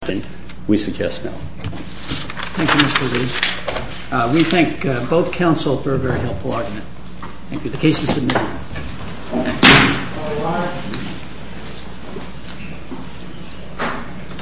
Thank you Mr. Lee. We thank both counsel for a very helpful argument. Thank you. The case is submitted.